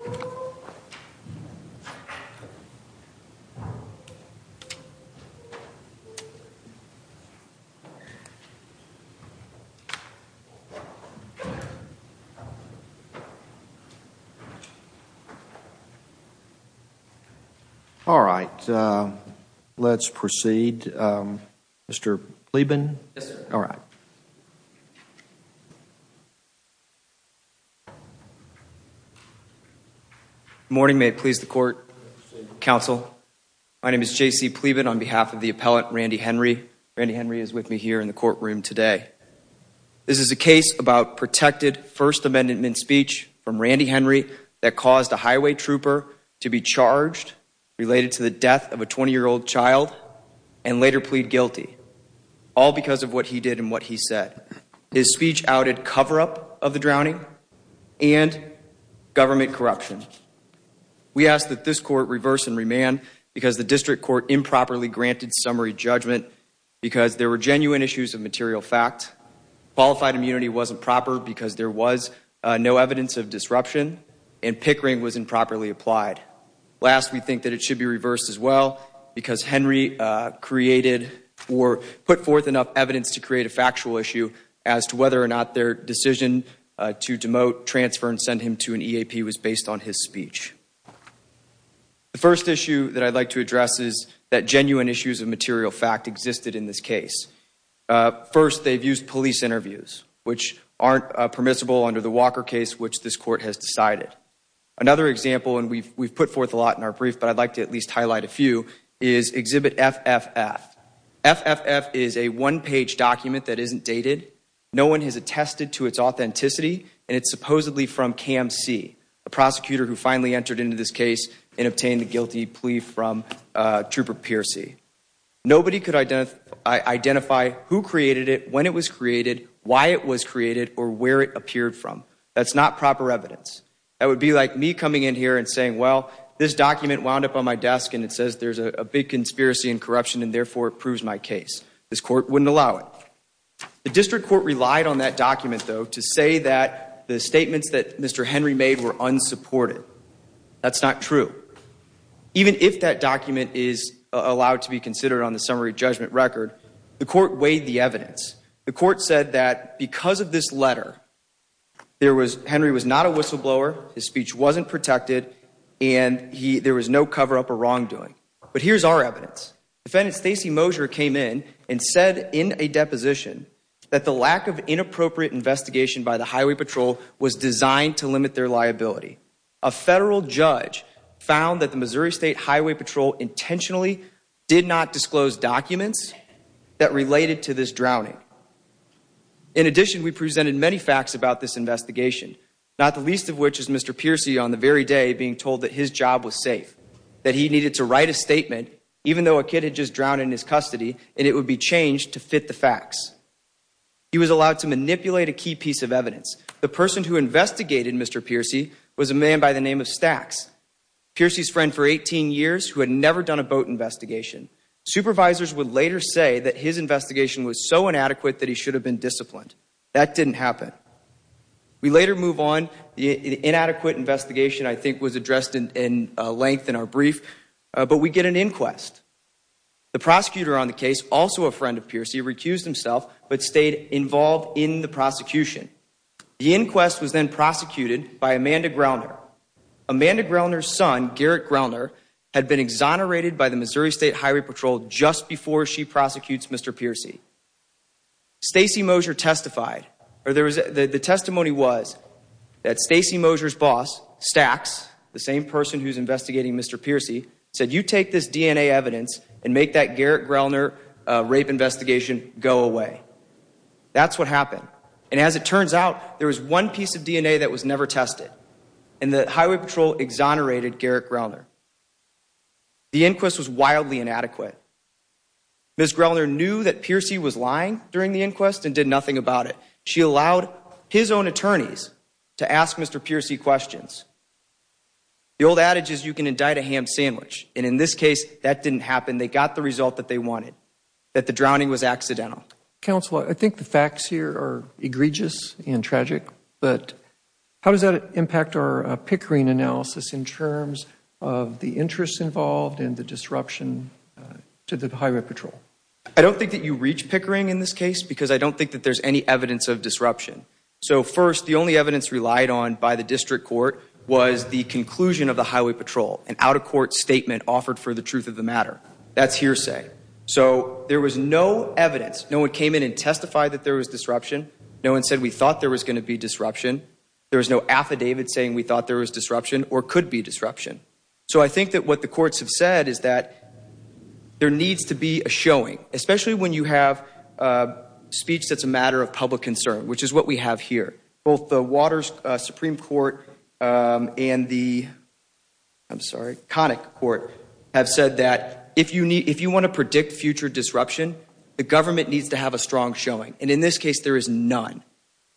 . For example, My name is J.C. Plieben on behalf of the appellate, Randy Henry. Randy Henry is with me here in the courtroom today. This is a case about protected First Amendment speech from Randy Henry that caused a highway trooper to be charged related to the death of a 20-year-old child and later plead guilty, all because of what he did and what he said. His speech outed cover-up of the drowning and government corruption. We ask that this court reverse and remand because the district court improperly granted summary judgment because there were genuine issues of material fact. Qualified immunity wasn't proper because there was no evidence of disruption and pickering was improperly applied. Last, we think that it should be reversed as well because Henry created or put forth enough evidence to create a factual issue as to whether or not their decision to demote, transfer, and send him to an EAP was based on his speech. The first issue that I'd like to address is that genuine issues of material fact existed in this case. First, they've used police interviews, which aren't permissible under the Walker case, which this court has decided. Another example, and we've put forth a lot in our brief, but I'd like to at least highlight a few, is Exhibit FFF. FFF is a one-page document that isn't dated. No one has attested to its authenticity, and it's supposedly from Cam C, a prosecutor who finally entered into this case and obtained the guilty plea from Trooper Piercy. Nobody could identify who created it, when it was created, why it was created, or where it appeared from. That's not proper evidence. That would be like me coming in here and saying, well, this document wound up on my desk and it says there's a big conspiracy and corruption and therefore it proves my case. This court wouldn't allow it. The district court relied on that document, though, to say that the statements that Mr. Henry made were unsupported. That's not true. Even if that document is allowed to be considered on the summary judgment record, the court weighed the evidence. The court said that because of this letter, Henry was not a whistleblower, his speech wasn't protected, and there was no cover-up or wrongdoing. But here's our evidence. Defendant Stacey Mosher came in and said in a deposition that the lack of inappropriate investigation by the Highway Patrol was designed to limit their liability. A federal judge found that the Missouri State Highway Patrol intentionally did not disclose documents that related to this drowning. In addition, we presented many facts about this investigation, not the least of which is Mr. Piercy on the very day being told that his job was safe, that he needed to write a statement, even though a kid had just drowned in his custody, and it would be changed to fit the facts. He was allowed to manipulate a key piece of evidence. The person who investigated Mr. Piercy was a man by the name of Stacks, Piercy's friend for 18 years who had never done a boat investigation. Supervisors would later say that his investigation was so inadequate that he should have been disciplined. That didn't happen. We later move on. The inadequate investigation, I think, was addressed in length in our brief, but we get an inquest. The prosecutor on the case, also a friend of Piercy, recused himself but stayed involved in the prosecution. The inquest was then prosecuted by Amanda Grellner. Amanda Grellner's son, Garrett Grellner, had been exonerated by the Missouri State Highway Patrol just before she prosecutes Mr. Piercy. Stacey Mosher testified, or there was, the testimony was that Stacey Mosher's boss, Stacks, the same person who's investigating Mr. Piercy, said, you take this DNA evidence and make that Garrett Grellner rape investigation go away. That's what happened. And as it turns out, there was one piece of DNA that was never tested, and the Highway Patrol exonerated Garrett Grellner. The inquest was wildly inadequate. Ms. Grellner knew that Piercy was lying during the inquest and did nothing about it. She allowed his own attorneys to ask Mr. Piercy questions. The old adage is you can indict a ham sandwich, and in this case, that didn't happen. They got the result that they wanted, that the drowning was accidental. Counsel, I think the facts here are egregious and tragic, but how does that impact our Pickering analysis in terms of the interest involved in the disruption to the Highway Patrol? I don't think that you reach Pickering in this case because I don't think that there's any evidence of disruption. So first, the only evidence relied on by the district court was the conclusion of the Highway Patrol, an out-of-court statement offered for the truth of the matter. That's hearsay. So there was no evidence. No one came in and testified that there was disruption. No one said we thought there was going to be disruption. There was no affidavit saying we thought there was disruption or could be disruption. So I think that what the courts have said is that there needs to be a showing, especially when you have speech that's a matter of public concern, which is what we have here. Both the Waters Supreme Court and the, I'm sorry, Connick Court have said that if you need, if you want to predict future disruption, the government needs to have a strong showing. And in this case, there is none.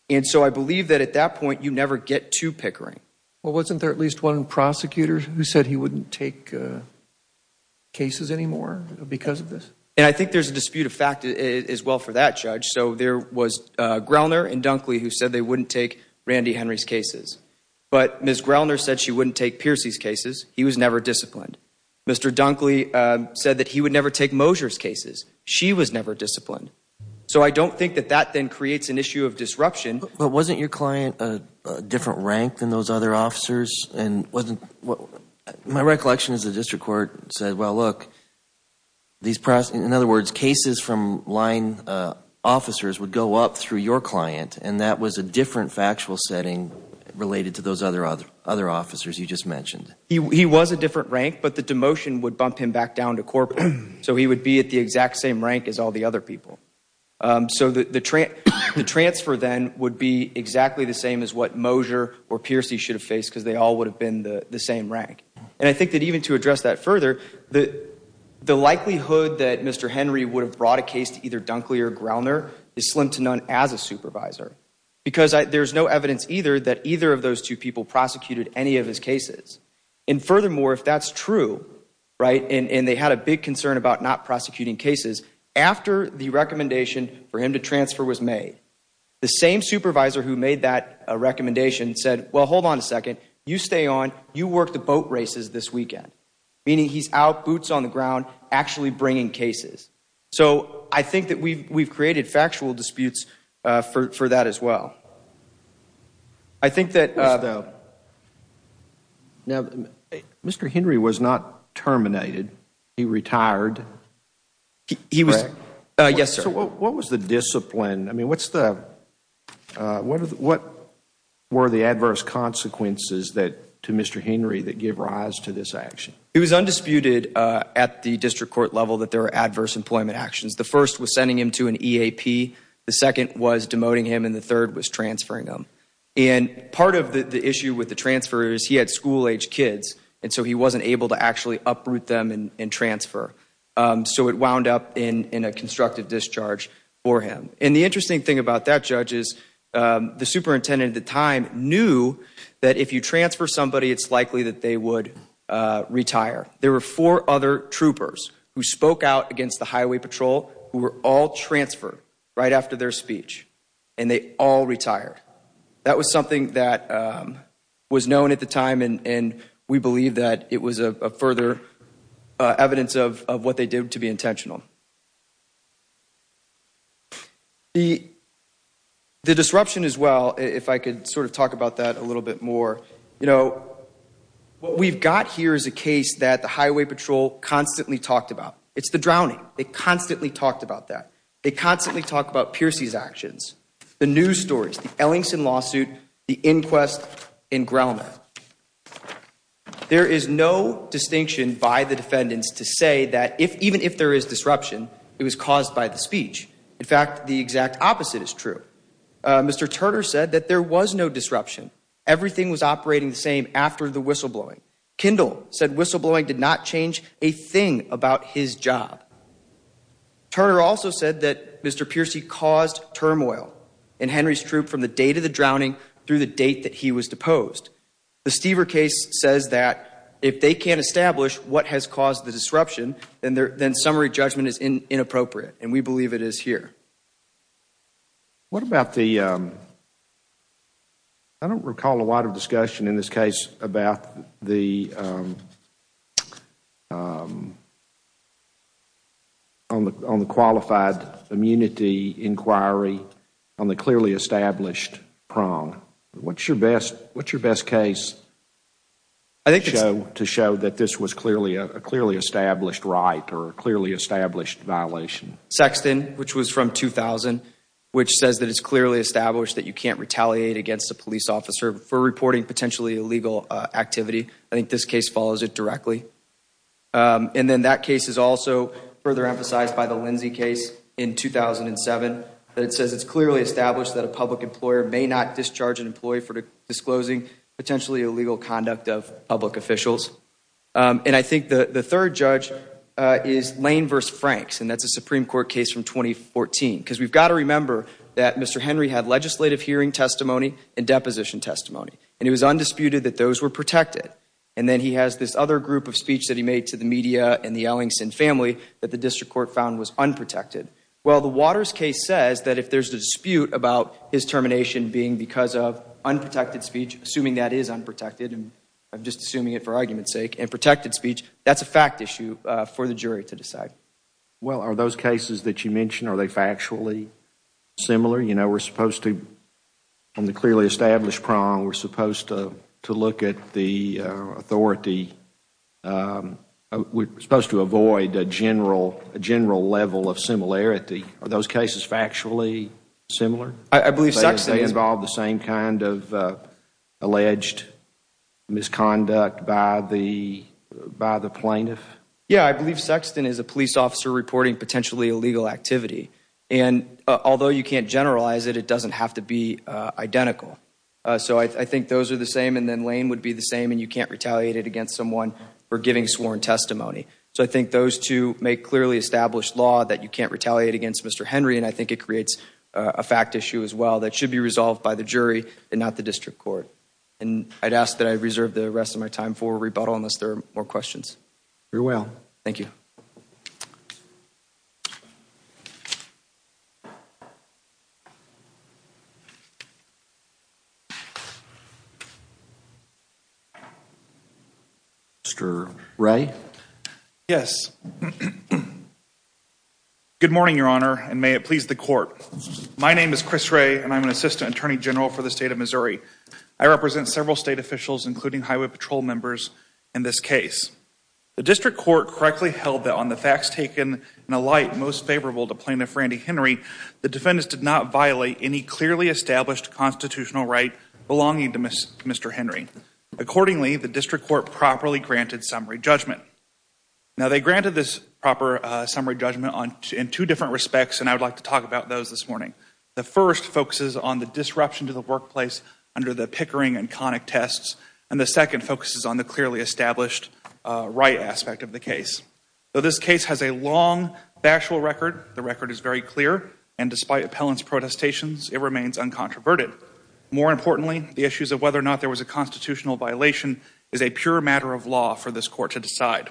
And so I believe that at that point, you never get to Pickering. Well, wasn't there at least one prosecutor who said he wouldn't take cases anymore because of this? And I think there's a dispute of fact as well for that, Judge. So there was Groener and Dunkley who said they wouldn't take Randy Henry's cases. But Ms. Groener said she wouldn't take Piercy's cases. He was never disciplined. Mr. Dunkley said that he would never take Mosier's cases. She was never disciplined. So I don't think that that then creates an issue of disruption. But wasn't your client a different rank than those other officers? And wasn't, my recollection is the district court said, well, look, these, in other words, cases from line officers would go up through your client. And that was a different factual setting related to those other officers you just mentioned. He was a different rank, but the demotion would bump him back down to corporate. So he would be at the exact same rank as all the other people. So the transfer then would be exactly the same as what Mosier or Piercy should have faced because they all would have been the same rank. And I think that even to address that further, the likelihood that Mr. Henry would have brought a case to either Dunkley or Groener is slim to none as a supervisor. Because there's no evidence either that either of those two people prosecuted any of his cases. And furthermore, if that's true, right, and they had a big concern about not prosecuting cases, after the recommendation for him to transfer was made, the same supervisor who made that recommendation said, well, hold on a second. You stay on. You work the boat races this weekend. Meaning he's out, boots on the ground, actually bringing cases. So I think that we've created factual disputes for that as well. I think that, now, Mr. Henry was not terminated. He retired. He was, yes, sir. So what was the discipline? I mean, what's the, what were the adverse consequences that, to Mr. Henry, that give rise to this action? It was undisputed at the district court level that there are adverse employment actions. The first was sending him to an EAP. The second was demoting him, and the third was transferring him. And part of the issue with the transfer is he had school-age kids. And so he wasn't able to actually uproot them and transfer. So it wound up in a constructive discharge for him. And the interesting thing about that, Judge, is the superintendent at the time knew that if you transfer somebody, it's likely that they would retire. There were four other troopers who spoke out against the highway patrol who were all transferred right after their speech, and they all retired. That was something that was known at the time, and we believe that it was further evidence of what they did to be intentional. The disruption as well, if I could sort of talk about that a little bit more, you know, what we've got here is a case that the highway patrol constantly talked about. It's the drowning. They constantly talked about that. They constantly talk about Piercey's actions, the news stories, the Ellingson lawsuit, the inquest in Grelman. There is no distinction by the defendants to say that even if there is disruption, it was caused by the speech. In fact, the exact opposite is true. Mr. Turner said that there was no disruption. Everything was operating the same after the whistleblowing. Kendall said whistleblowing did not change a thing about his job. Turner also said that Mr. Piercey caused turmoil in Henry's troop from the date of the drowning through the date that he was deposed. The Stever case says that if they can't establish what has caused the disruption, then summary judgment is inappropriate, and we believe it is here. What about the, I don't recall a lot of discussion in this case about the, on the qualified immunity inquiry on the clearly established prong. What's your best, what's your best case to show that this was clearly, a clearly established right or a clearly established violation? Sexton, which was from 2000, which says that it's clearly established that you can't retaliate against a police officer for reporting potentially illegal activity. I think this case follows it directly. And then that case is also further emphasized by the Lindsay case in 2007. But it says it's clearly established that a public employer may not discharge an employee for disclosing potentially illegal conduct of public officials. And I think the third judge is Lane v. Franks, and that's a Supreme Court case from 2014. Because we've got to remember that Mr. Henry had legislative hearing testimony and deposition testimony, and it was undisputed that those were protected. And then he has this other group of speech that he made to the media and the Ellingson family that the district court found was unprotected. Well, the Waters case says that if there's a dispute about his termination being because of unprotected speech, assuming that is unprotected, and I'm just assuming it for argument's sake, and protected speech, that's a fact issue for the jury to decide. Well, are those cases that you mentioned, are they factually similar? You know, we're supposed to, on the clearly established prong, we're supposed to look at the authority. We're supposed to avoid a general level of similarity. Are those cases factually similar? I believe Sexton is- They involve the same kind of alleged misconduct by the plaintiff? Yeah, I believe Sexton is a police officer reporting potentially illegal activity. And although you can't generalize it, it doesn't have to be identical. So I think those are the same, and then Lane would be the same, and you can't retaliate it against someone for giving sworn testimony. So I think those two make clearly established law that you can't retaliate against Mr. Henry, and I think it creates a fact issue as well, that should be resolved by the jury and not the district court. And I'd ask that I reserve the rest of my time for rebuttal unless there are more questions. Very well. Thank you. Mr. Ray? Yes. Good morning, Your Honor, and may it please the court. My name is Chris Ray, and I'm an assistant attorney general for the state of Missouri. I represent several state officials, including highway patrol members in this case. The district court correctly held that on the facts taken in a light most favorable to plaintiff Randy Henry, the defendants did not violate any clearly established constitutional right belonging to Mr. Henry. Accordingly, the district court properly granted summary judgment. Now, they granted this proper summary judgment in two different respects, and I would like to talk about those this morning. The first focuses on the disruption to the workplace under the Pickering and Connick tests, and the second focuses on the clearly established right aspect of the case. Though this case has a long factual record, the record is very clear, and despite appellant's protestations, it remains uncontroverted. More importantly, the issues of whether or not there was a constitutional violation is a pure matter of law for this court to decide.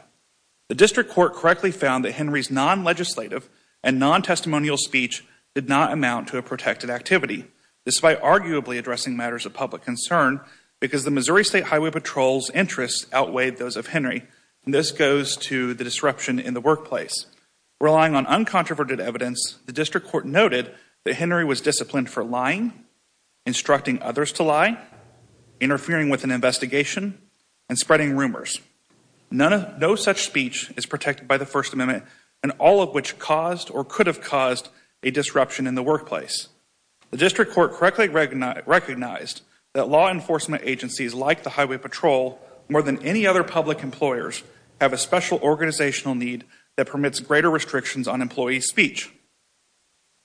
The district court correctly found that Henry's non-legislative and non-testimonial speech did not amount to a protected activity, despite arguably addressing matters of public concern because the Missouri State Highway Patrol's interests outweighed those of Henry, and this goes to the disruption in the workplace. Relying on uncontroverted evidence, the district court noted that Henry was disciplined for lying, instructing others to lie, interfering with an investigation, and spreading rumors. No such speech is protected by the First Amendment, and all of which caused or could have caused a disruption in the workplace. The district court correctly recognized that law enforcement agencies like the Highway Patrol, more than any other public employers, have a special organizational need that permits greater restrictions on employee speech.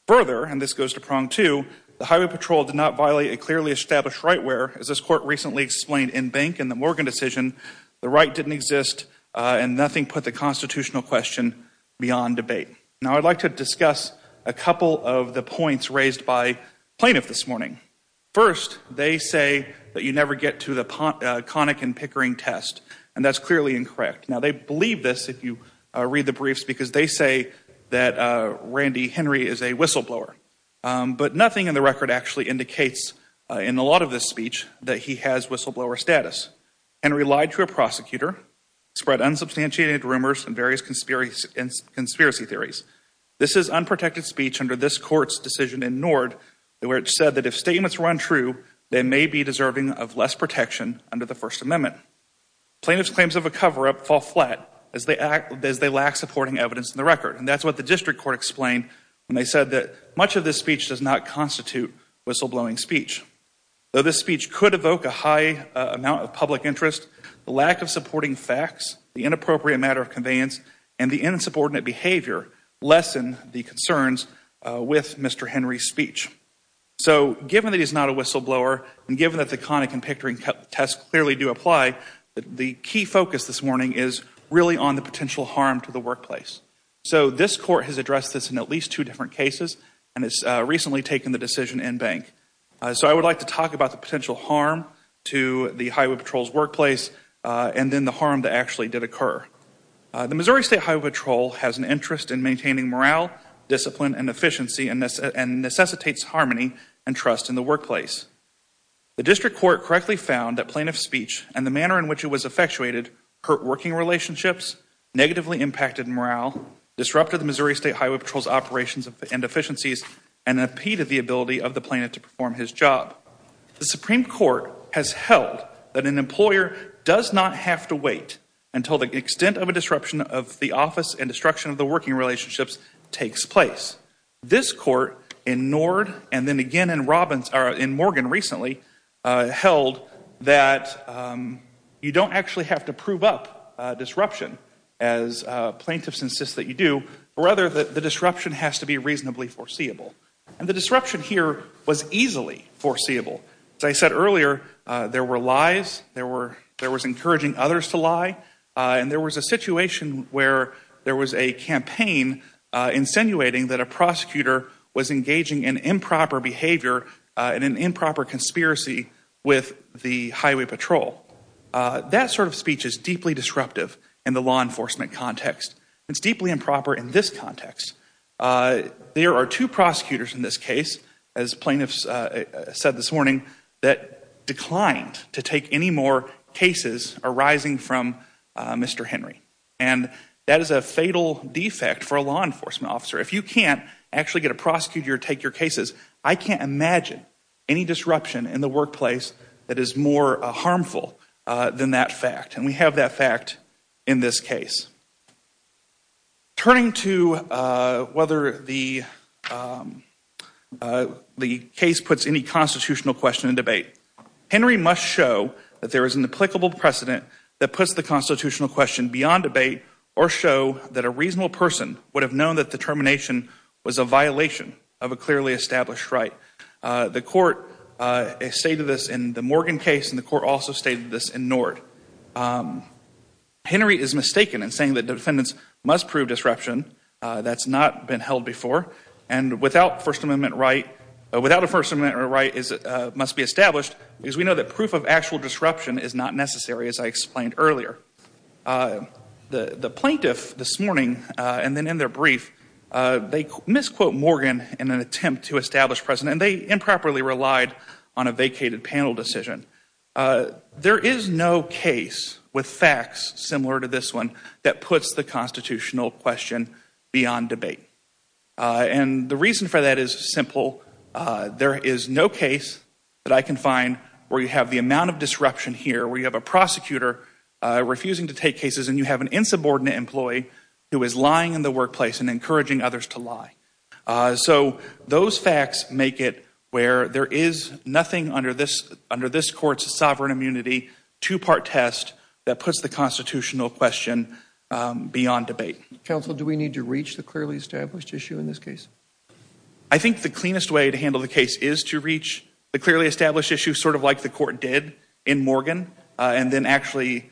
Further, and this goes to prong two, the Highway Patrol did not violate a clearly established right where, as this court recently explained in Bank and the Morgan decision, the right didn't exist and nothing put the constitutional question beyond debate. Now, I'd like to discuss a couple of the points raised by plaintiffs this morning. First, they say that you never get to the conic and pickering test, and that's clearly incorrect. Now, they believe this if you read the briefs because they say that Randy Henry is a whistleblower, but nothing in the record actually indicates in a lot of this speech that he has whistleblower status. Henry lied to a prosecutor, spread unsubstantiated rumors, and various conspiracy theories. This is unprotected speech under this court's decision in Nord, where it said that if statements run true, they may be deserving of less protection under the First Amendment. Plaintiffs' claims of a cover-up fall flat as they lack supporting evidence in the record, and that's what the district court explained when they said that much of this speech does not constitute whistleblowing speech. Though this speech could evoke a high amount of public interest, the lack of supporting facts, the inappropriate matter of conveyance, and the insubordinate behavior lessen the concerns with Mr. Henry's speech. So, given that he's not a whistleblower, and given that the conic and pickering tests clearly do apply, the key focus this morning is really on the potential harm to the workplace. So, this court has addressed this in at least two different cases, and it's recently taken the decision in Bank. So, I would like to talk about the potential harm to the Highway Patrol's workplace, and then the harm that actually did occur. The Missouri State Highway Patrol has an interest in maintaining morale, discipline, and efficiency, and necessitates harmony and trust in the workplace. The district court correctly found that plaintiff's speech and the manner in which it was effectuated hurt working relationships, negatively impacted morale, disrupted the Missouri State Highway Patrol's operations and efficiencies, and impeded the ability of the plaintiff to perform his job. The Supreme Court has held that an employer does not have to wait until the extent of a disruption of the office and destruction of the working relationships takes place. This court, in Nord, and then again in Morgan recently, held that you don't actually have to prove up disruption, as plaintiffs insist that you do, but rather that the disruption has to be reasonably foreseeable. And the disruption here was easily foreseeable. As I said earlier, there were lies, there was encouraging others to lie, and there was a situation where there was a campaign insinuating that a prosecutor was engaging in improper behavior and an improper conspiracy with the Highway Patrol. That sort of speech is deeply disruptive in the law enforcement context. It's deeply improper in this context. There are two prosecutors in this case, as plaintiffs said this morning, that declined to take any more cases arising from Mr. Henry. And that is a fatal defect for a law enforcement officer. If you can't actually get a prosecutor to take your cases, I can't imagine any disruption in the workplace that is more harmful than that fact. And we have that fact in this case. Turning to whether the case puts any constitutional question in debate, Henry must show that there is an applicable precedent that puts the constitutional question beyond debate or show that a reasonable person would have known that the termination was a violation of a clearly established right. The court stated this in the Morgan case and the court also stated this in Nord. Henry is mistaken in saying that defendants must prove disruption that's not been held before and without a First Amendment right must be established because we know that proof of actual disruption is not necessary as I explained earlier. The plaintiff this morning and then in their brief, they misquote Morgan in an attempt to establish precedent. They improperly relied on a vacated panel decision. There is no case with facts similar to this one that puts the constitutional question beyond debate. And the reason for that is simple. There is no case that I can find where you have the amount of disruption here where you have a prosecutor refusing to take cases and you have an insubordinate employee who is lying in the workplace and encouraging others to lie. So those facts make it where there is nothing under this court's sovereign immunity, two-part test that puts the constitutional question beyond debate. Counsel, do we need to reach the clearly established issue in this case? I think the cleanest way to handle the case is to reach the clearly established issue sort of like the court did in Morgan and then actually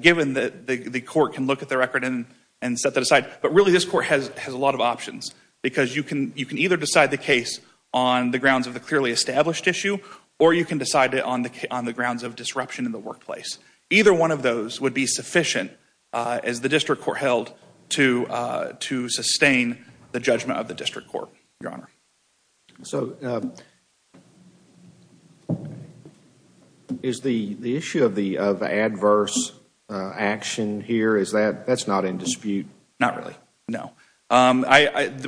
given that the court can look at the record and set that aside. But really this court has a lot of options because you can either decide the case on the grounds of the clearly established issue or you can decide it on the grounds of disruption in the workplace. Either one of those would be sufficient as the district court held to sustain the judgment of the district court, Your Honor. So is the issue of adverse action here, that's not in dispute? Not really, no.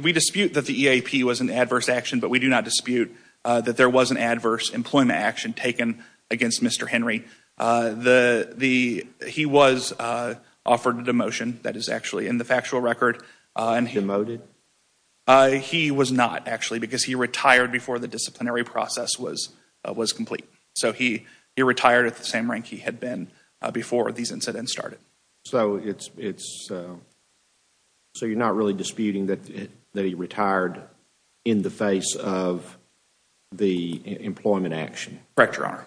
We dispute that the EAP was an adverse action, but we do not dispute that there was an adverse employment action taken against Mr. Henry. He was offered a demotion, that is actually in the factual record. Demoted? He was not actually because he retired before the disciplinary process was complete. So he retired at the same rank he had been before these incidents started. So you're not really disputing that he retired in the face of the employment action? Correct, Your Honor.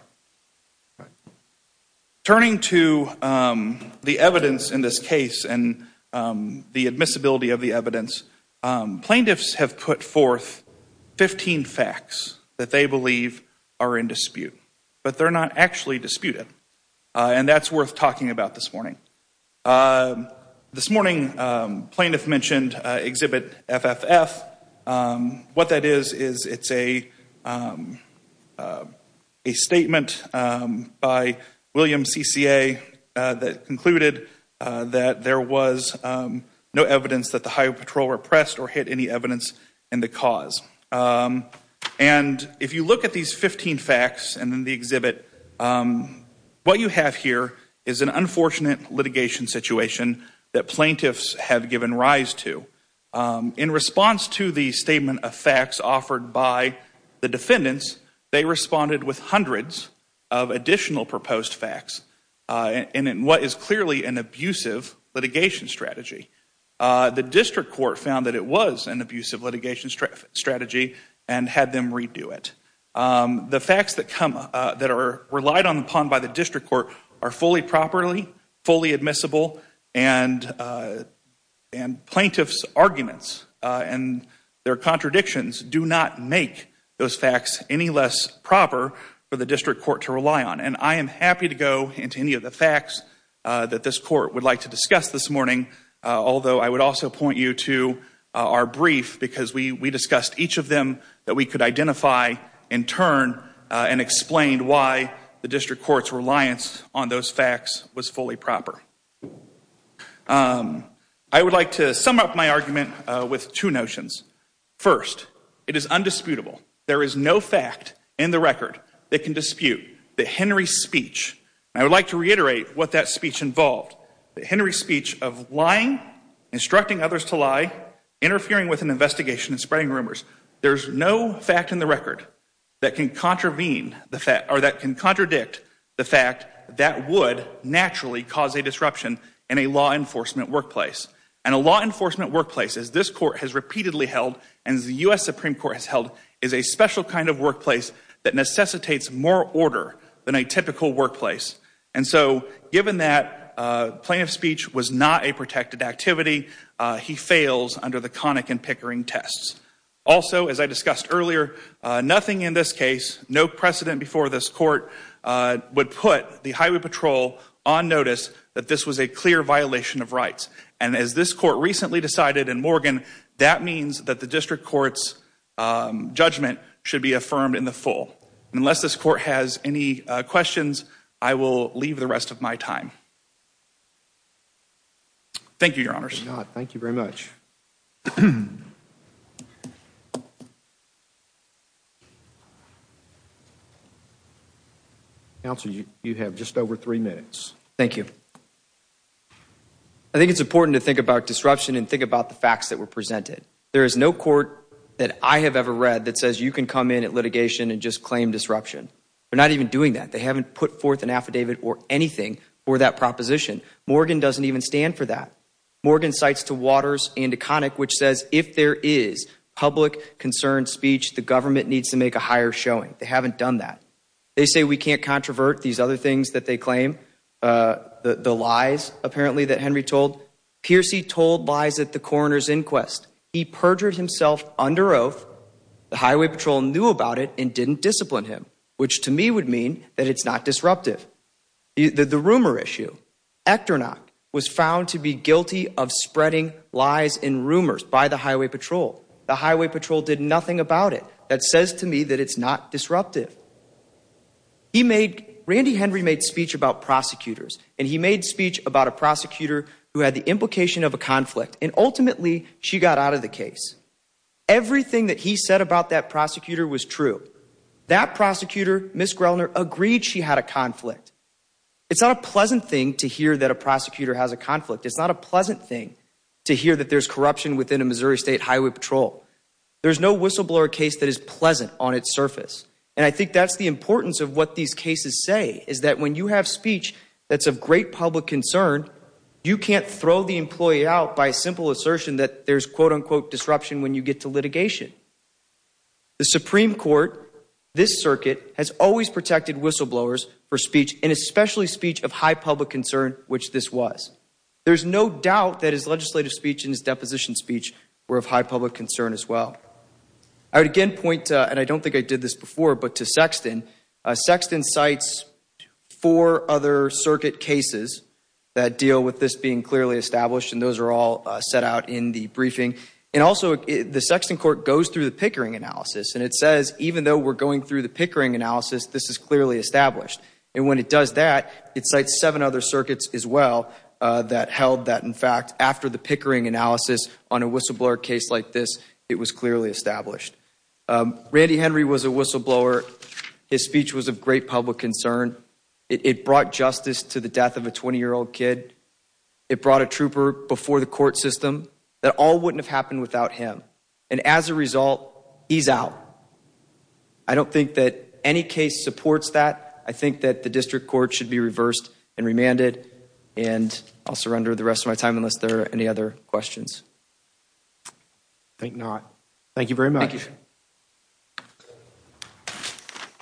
Turning to the evidence in this case and the admissibility of the evidence, plaintiffs have put forth 15 facts that they believe are in dispute, but they're not actually disputed. And that's worth talking about this morning. This morning, plaintiffs mentioned Exhibit FFF. What that is, is it's a statement by William CCA that concluded that there was no evidence that the Highway Patrol repressed or hid any evidence in the cause. And if you look at these 15 facts and in the exhibit, what you have here is an unfortunate litigation situation that plaintiffs have given rise to. In response to the statement of facts offered by the defendants, they responded with hundreds of additional proposed facts in what is clearly an abusive litigation strategy. The district court found that it was an abusive litigation strategy and had them redo it. The facts that are relied upon by the district court are fully properly, fully admissible, and plaintiffs' arguments and their contradictions do not make those facts any less proper for the district court to rely on. And I am happy to go into any of the facts that this court would like to discuss this morning, although I would also point you to our brief, because we discussed each of them that we could identify, in turn, and explained why the district court's reliance on those facts was fully proper. I would like to sum up my argument with two notions. First, it is undisputable. There is no fact in the record that can dispute that Henry's speech, and I would like to reiterate what that speech involved, that Henry's speech of lying, instructing others to lie, interfering with an investigation and spreading rumors, there's no fact in the record that can contravene the fact, or that can contradict the fact that that would naturally cause a disruption in a law enforcement workplace. And a law enforcement workplace, as this court has repeatedly held, and as the U.S. Supreme Court has held, is a special kind of workplace that necessitates more order than a typical workplace. And so, given that plaintiff's speech was not a protected activity, he fails under the Connick and Pickering tests. Also, as I discussed earlier, nothing in this case, no precedent before this court, would put the Highway Patrol on notice that this was a clear violation of rights. And as this court recently decided in Morgan, that means that the district court's judgment should be affirmed in the full. Unless this court has any questions, I will leave the rest of my time. Thank you, Your Honors. Thank you very much. Counsel, you have just over three minutes. Thank you. I think it's important to think about disruption and think about the facts that were presented. There is no court that I have ever read that says you can come in at litigation and just claim disruption. They're not even doing that. They haven't put forth an affidavit or anything for that proposition. Morgan doesn't even stand for that. Morgan cites to Waters and to Connick, which says, if there is public concern speech, the government needs to make a higher showing. They haven't done that. They say we can't controvert these other things that they claim. The lies, apparently, that Henry told. Piercy told lies at the coroner's inquest. He perjured himself under oath. The highway patrol knew about it and didn't discipline him. Which, to me, would mean that it's not disruptive. The rumor issue. Echternach was found to be guilty of spreading lies and rumors by the highway patrol. The highway patrol did nothing about it. That says to me that it's not disruptive. Randy Henry made speech about prosecutors. And he made speech about a prosecutor who had the implication of a conflict. And ultimately, she got out of the case. Everything that he said about that prosecutor was true. That prosecutor, Ms. Grellner, agreed she had a conflict. It's not a pleasant thing to hear that a prosecutor has a conflict. It's not a pleasant thing to hear that there's corruption within a Missouri State Highway Patrol. There's no whistleblower case that is pleasant on its surface. And I think that's the importance of what these cases say. Is that when you have speech that's of great public concern, you can't throw the employee out by a simple assertion that there's quote-unquote disruption when you get to litigation. The Supreme Court, this circuit, has always protected whistleblowers for speech. And especially speech of high public concern, which this was. There's no doubt that his legislative speech and his deposition speech were of high public concern as well. I would again point, and I don't think I did this before, but to Sexton. Sexton cites four other circuit cases that deal with this being clearly established. And those are all set out in the briefing. And also, the Sexton court goes through the Pickering analysis. And it says, even though we're going through the Pickering analysis, this is clearly established. And when it does that, it cites seven other circuits as well that held that, in fact, after the Pickering analysis on a whistleblower case like this, it was clearly established. Randy Henry was a whistleblower. His speech was of great public concern. It brought justice to the death of a 20-year-old kid. It brought a trooper before the court system. That all wouldn't have happened without him. And as a result, he's out. I don't think that any case supports that. I think that the district court should be reversed and remanded. And I'll surrender the rest of my time unless there are any other questions. I think not. Thank you very much. Thank you.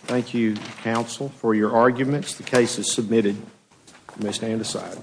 Thank you, counsel, for your arguments. The case is submitted. You may stand aside.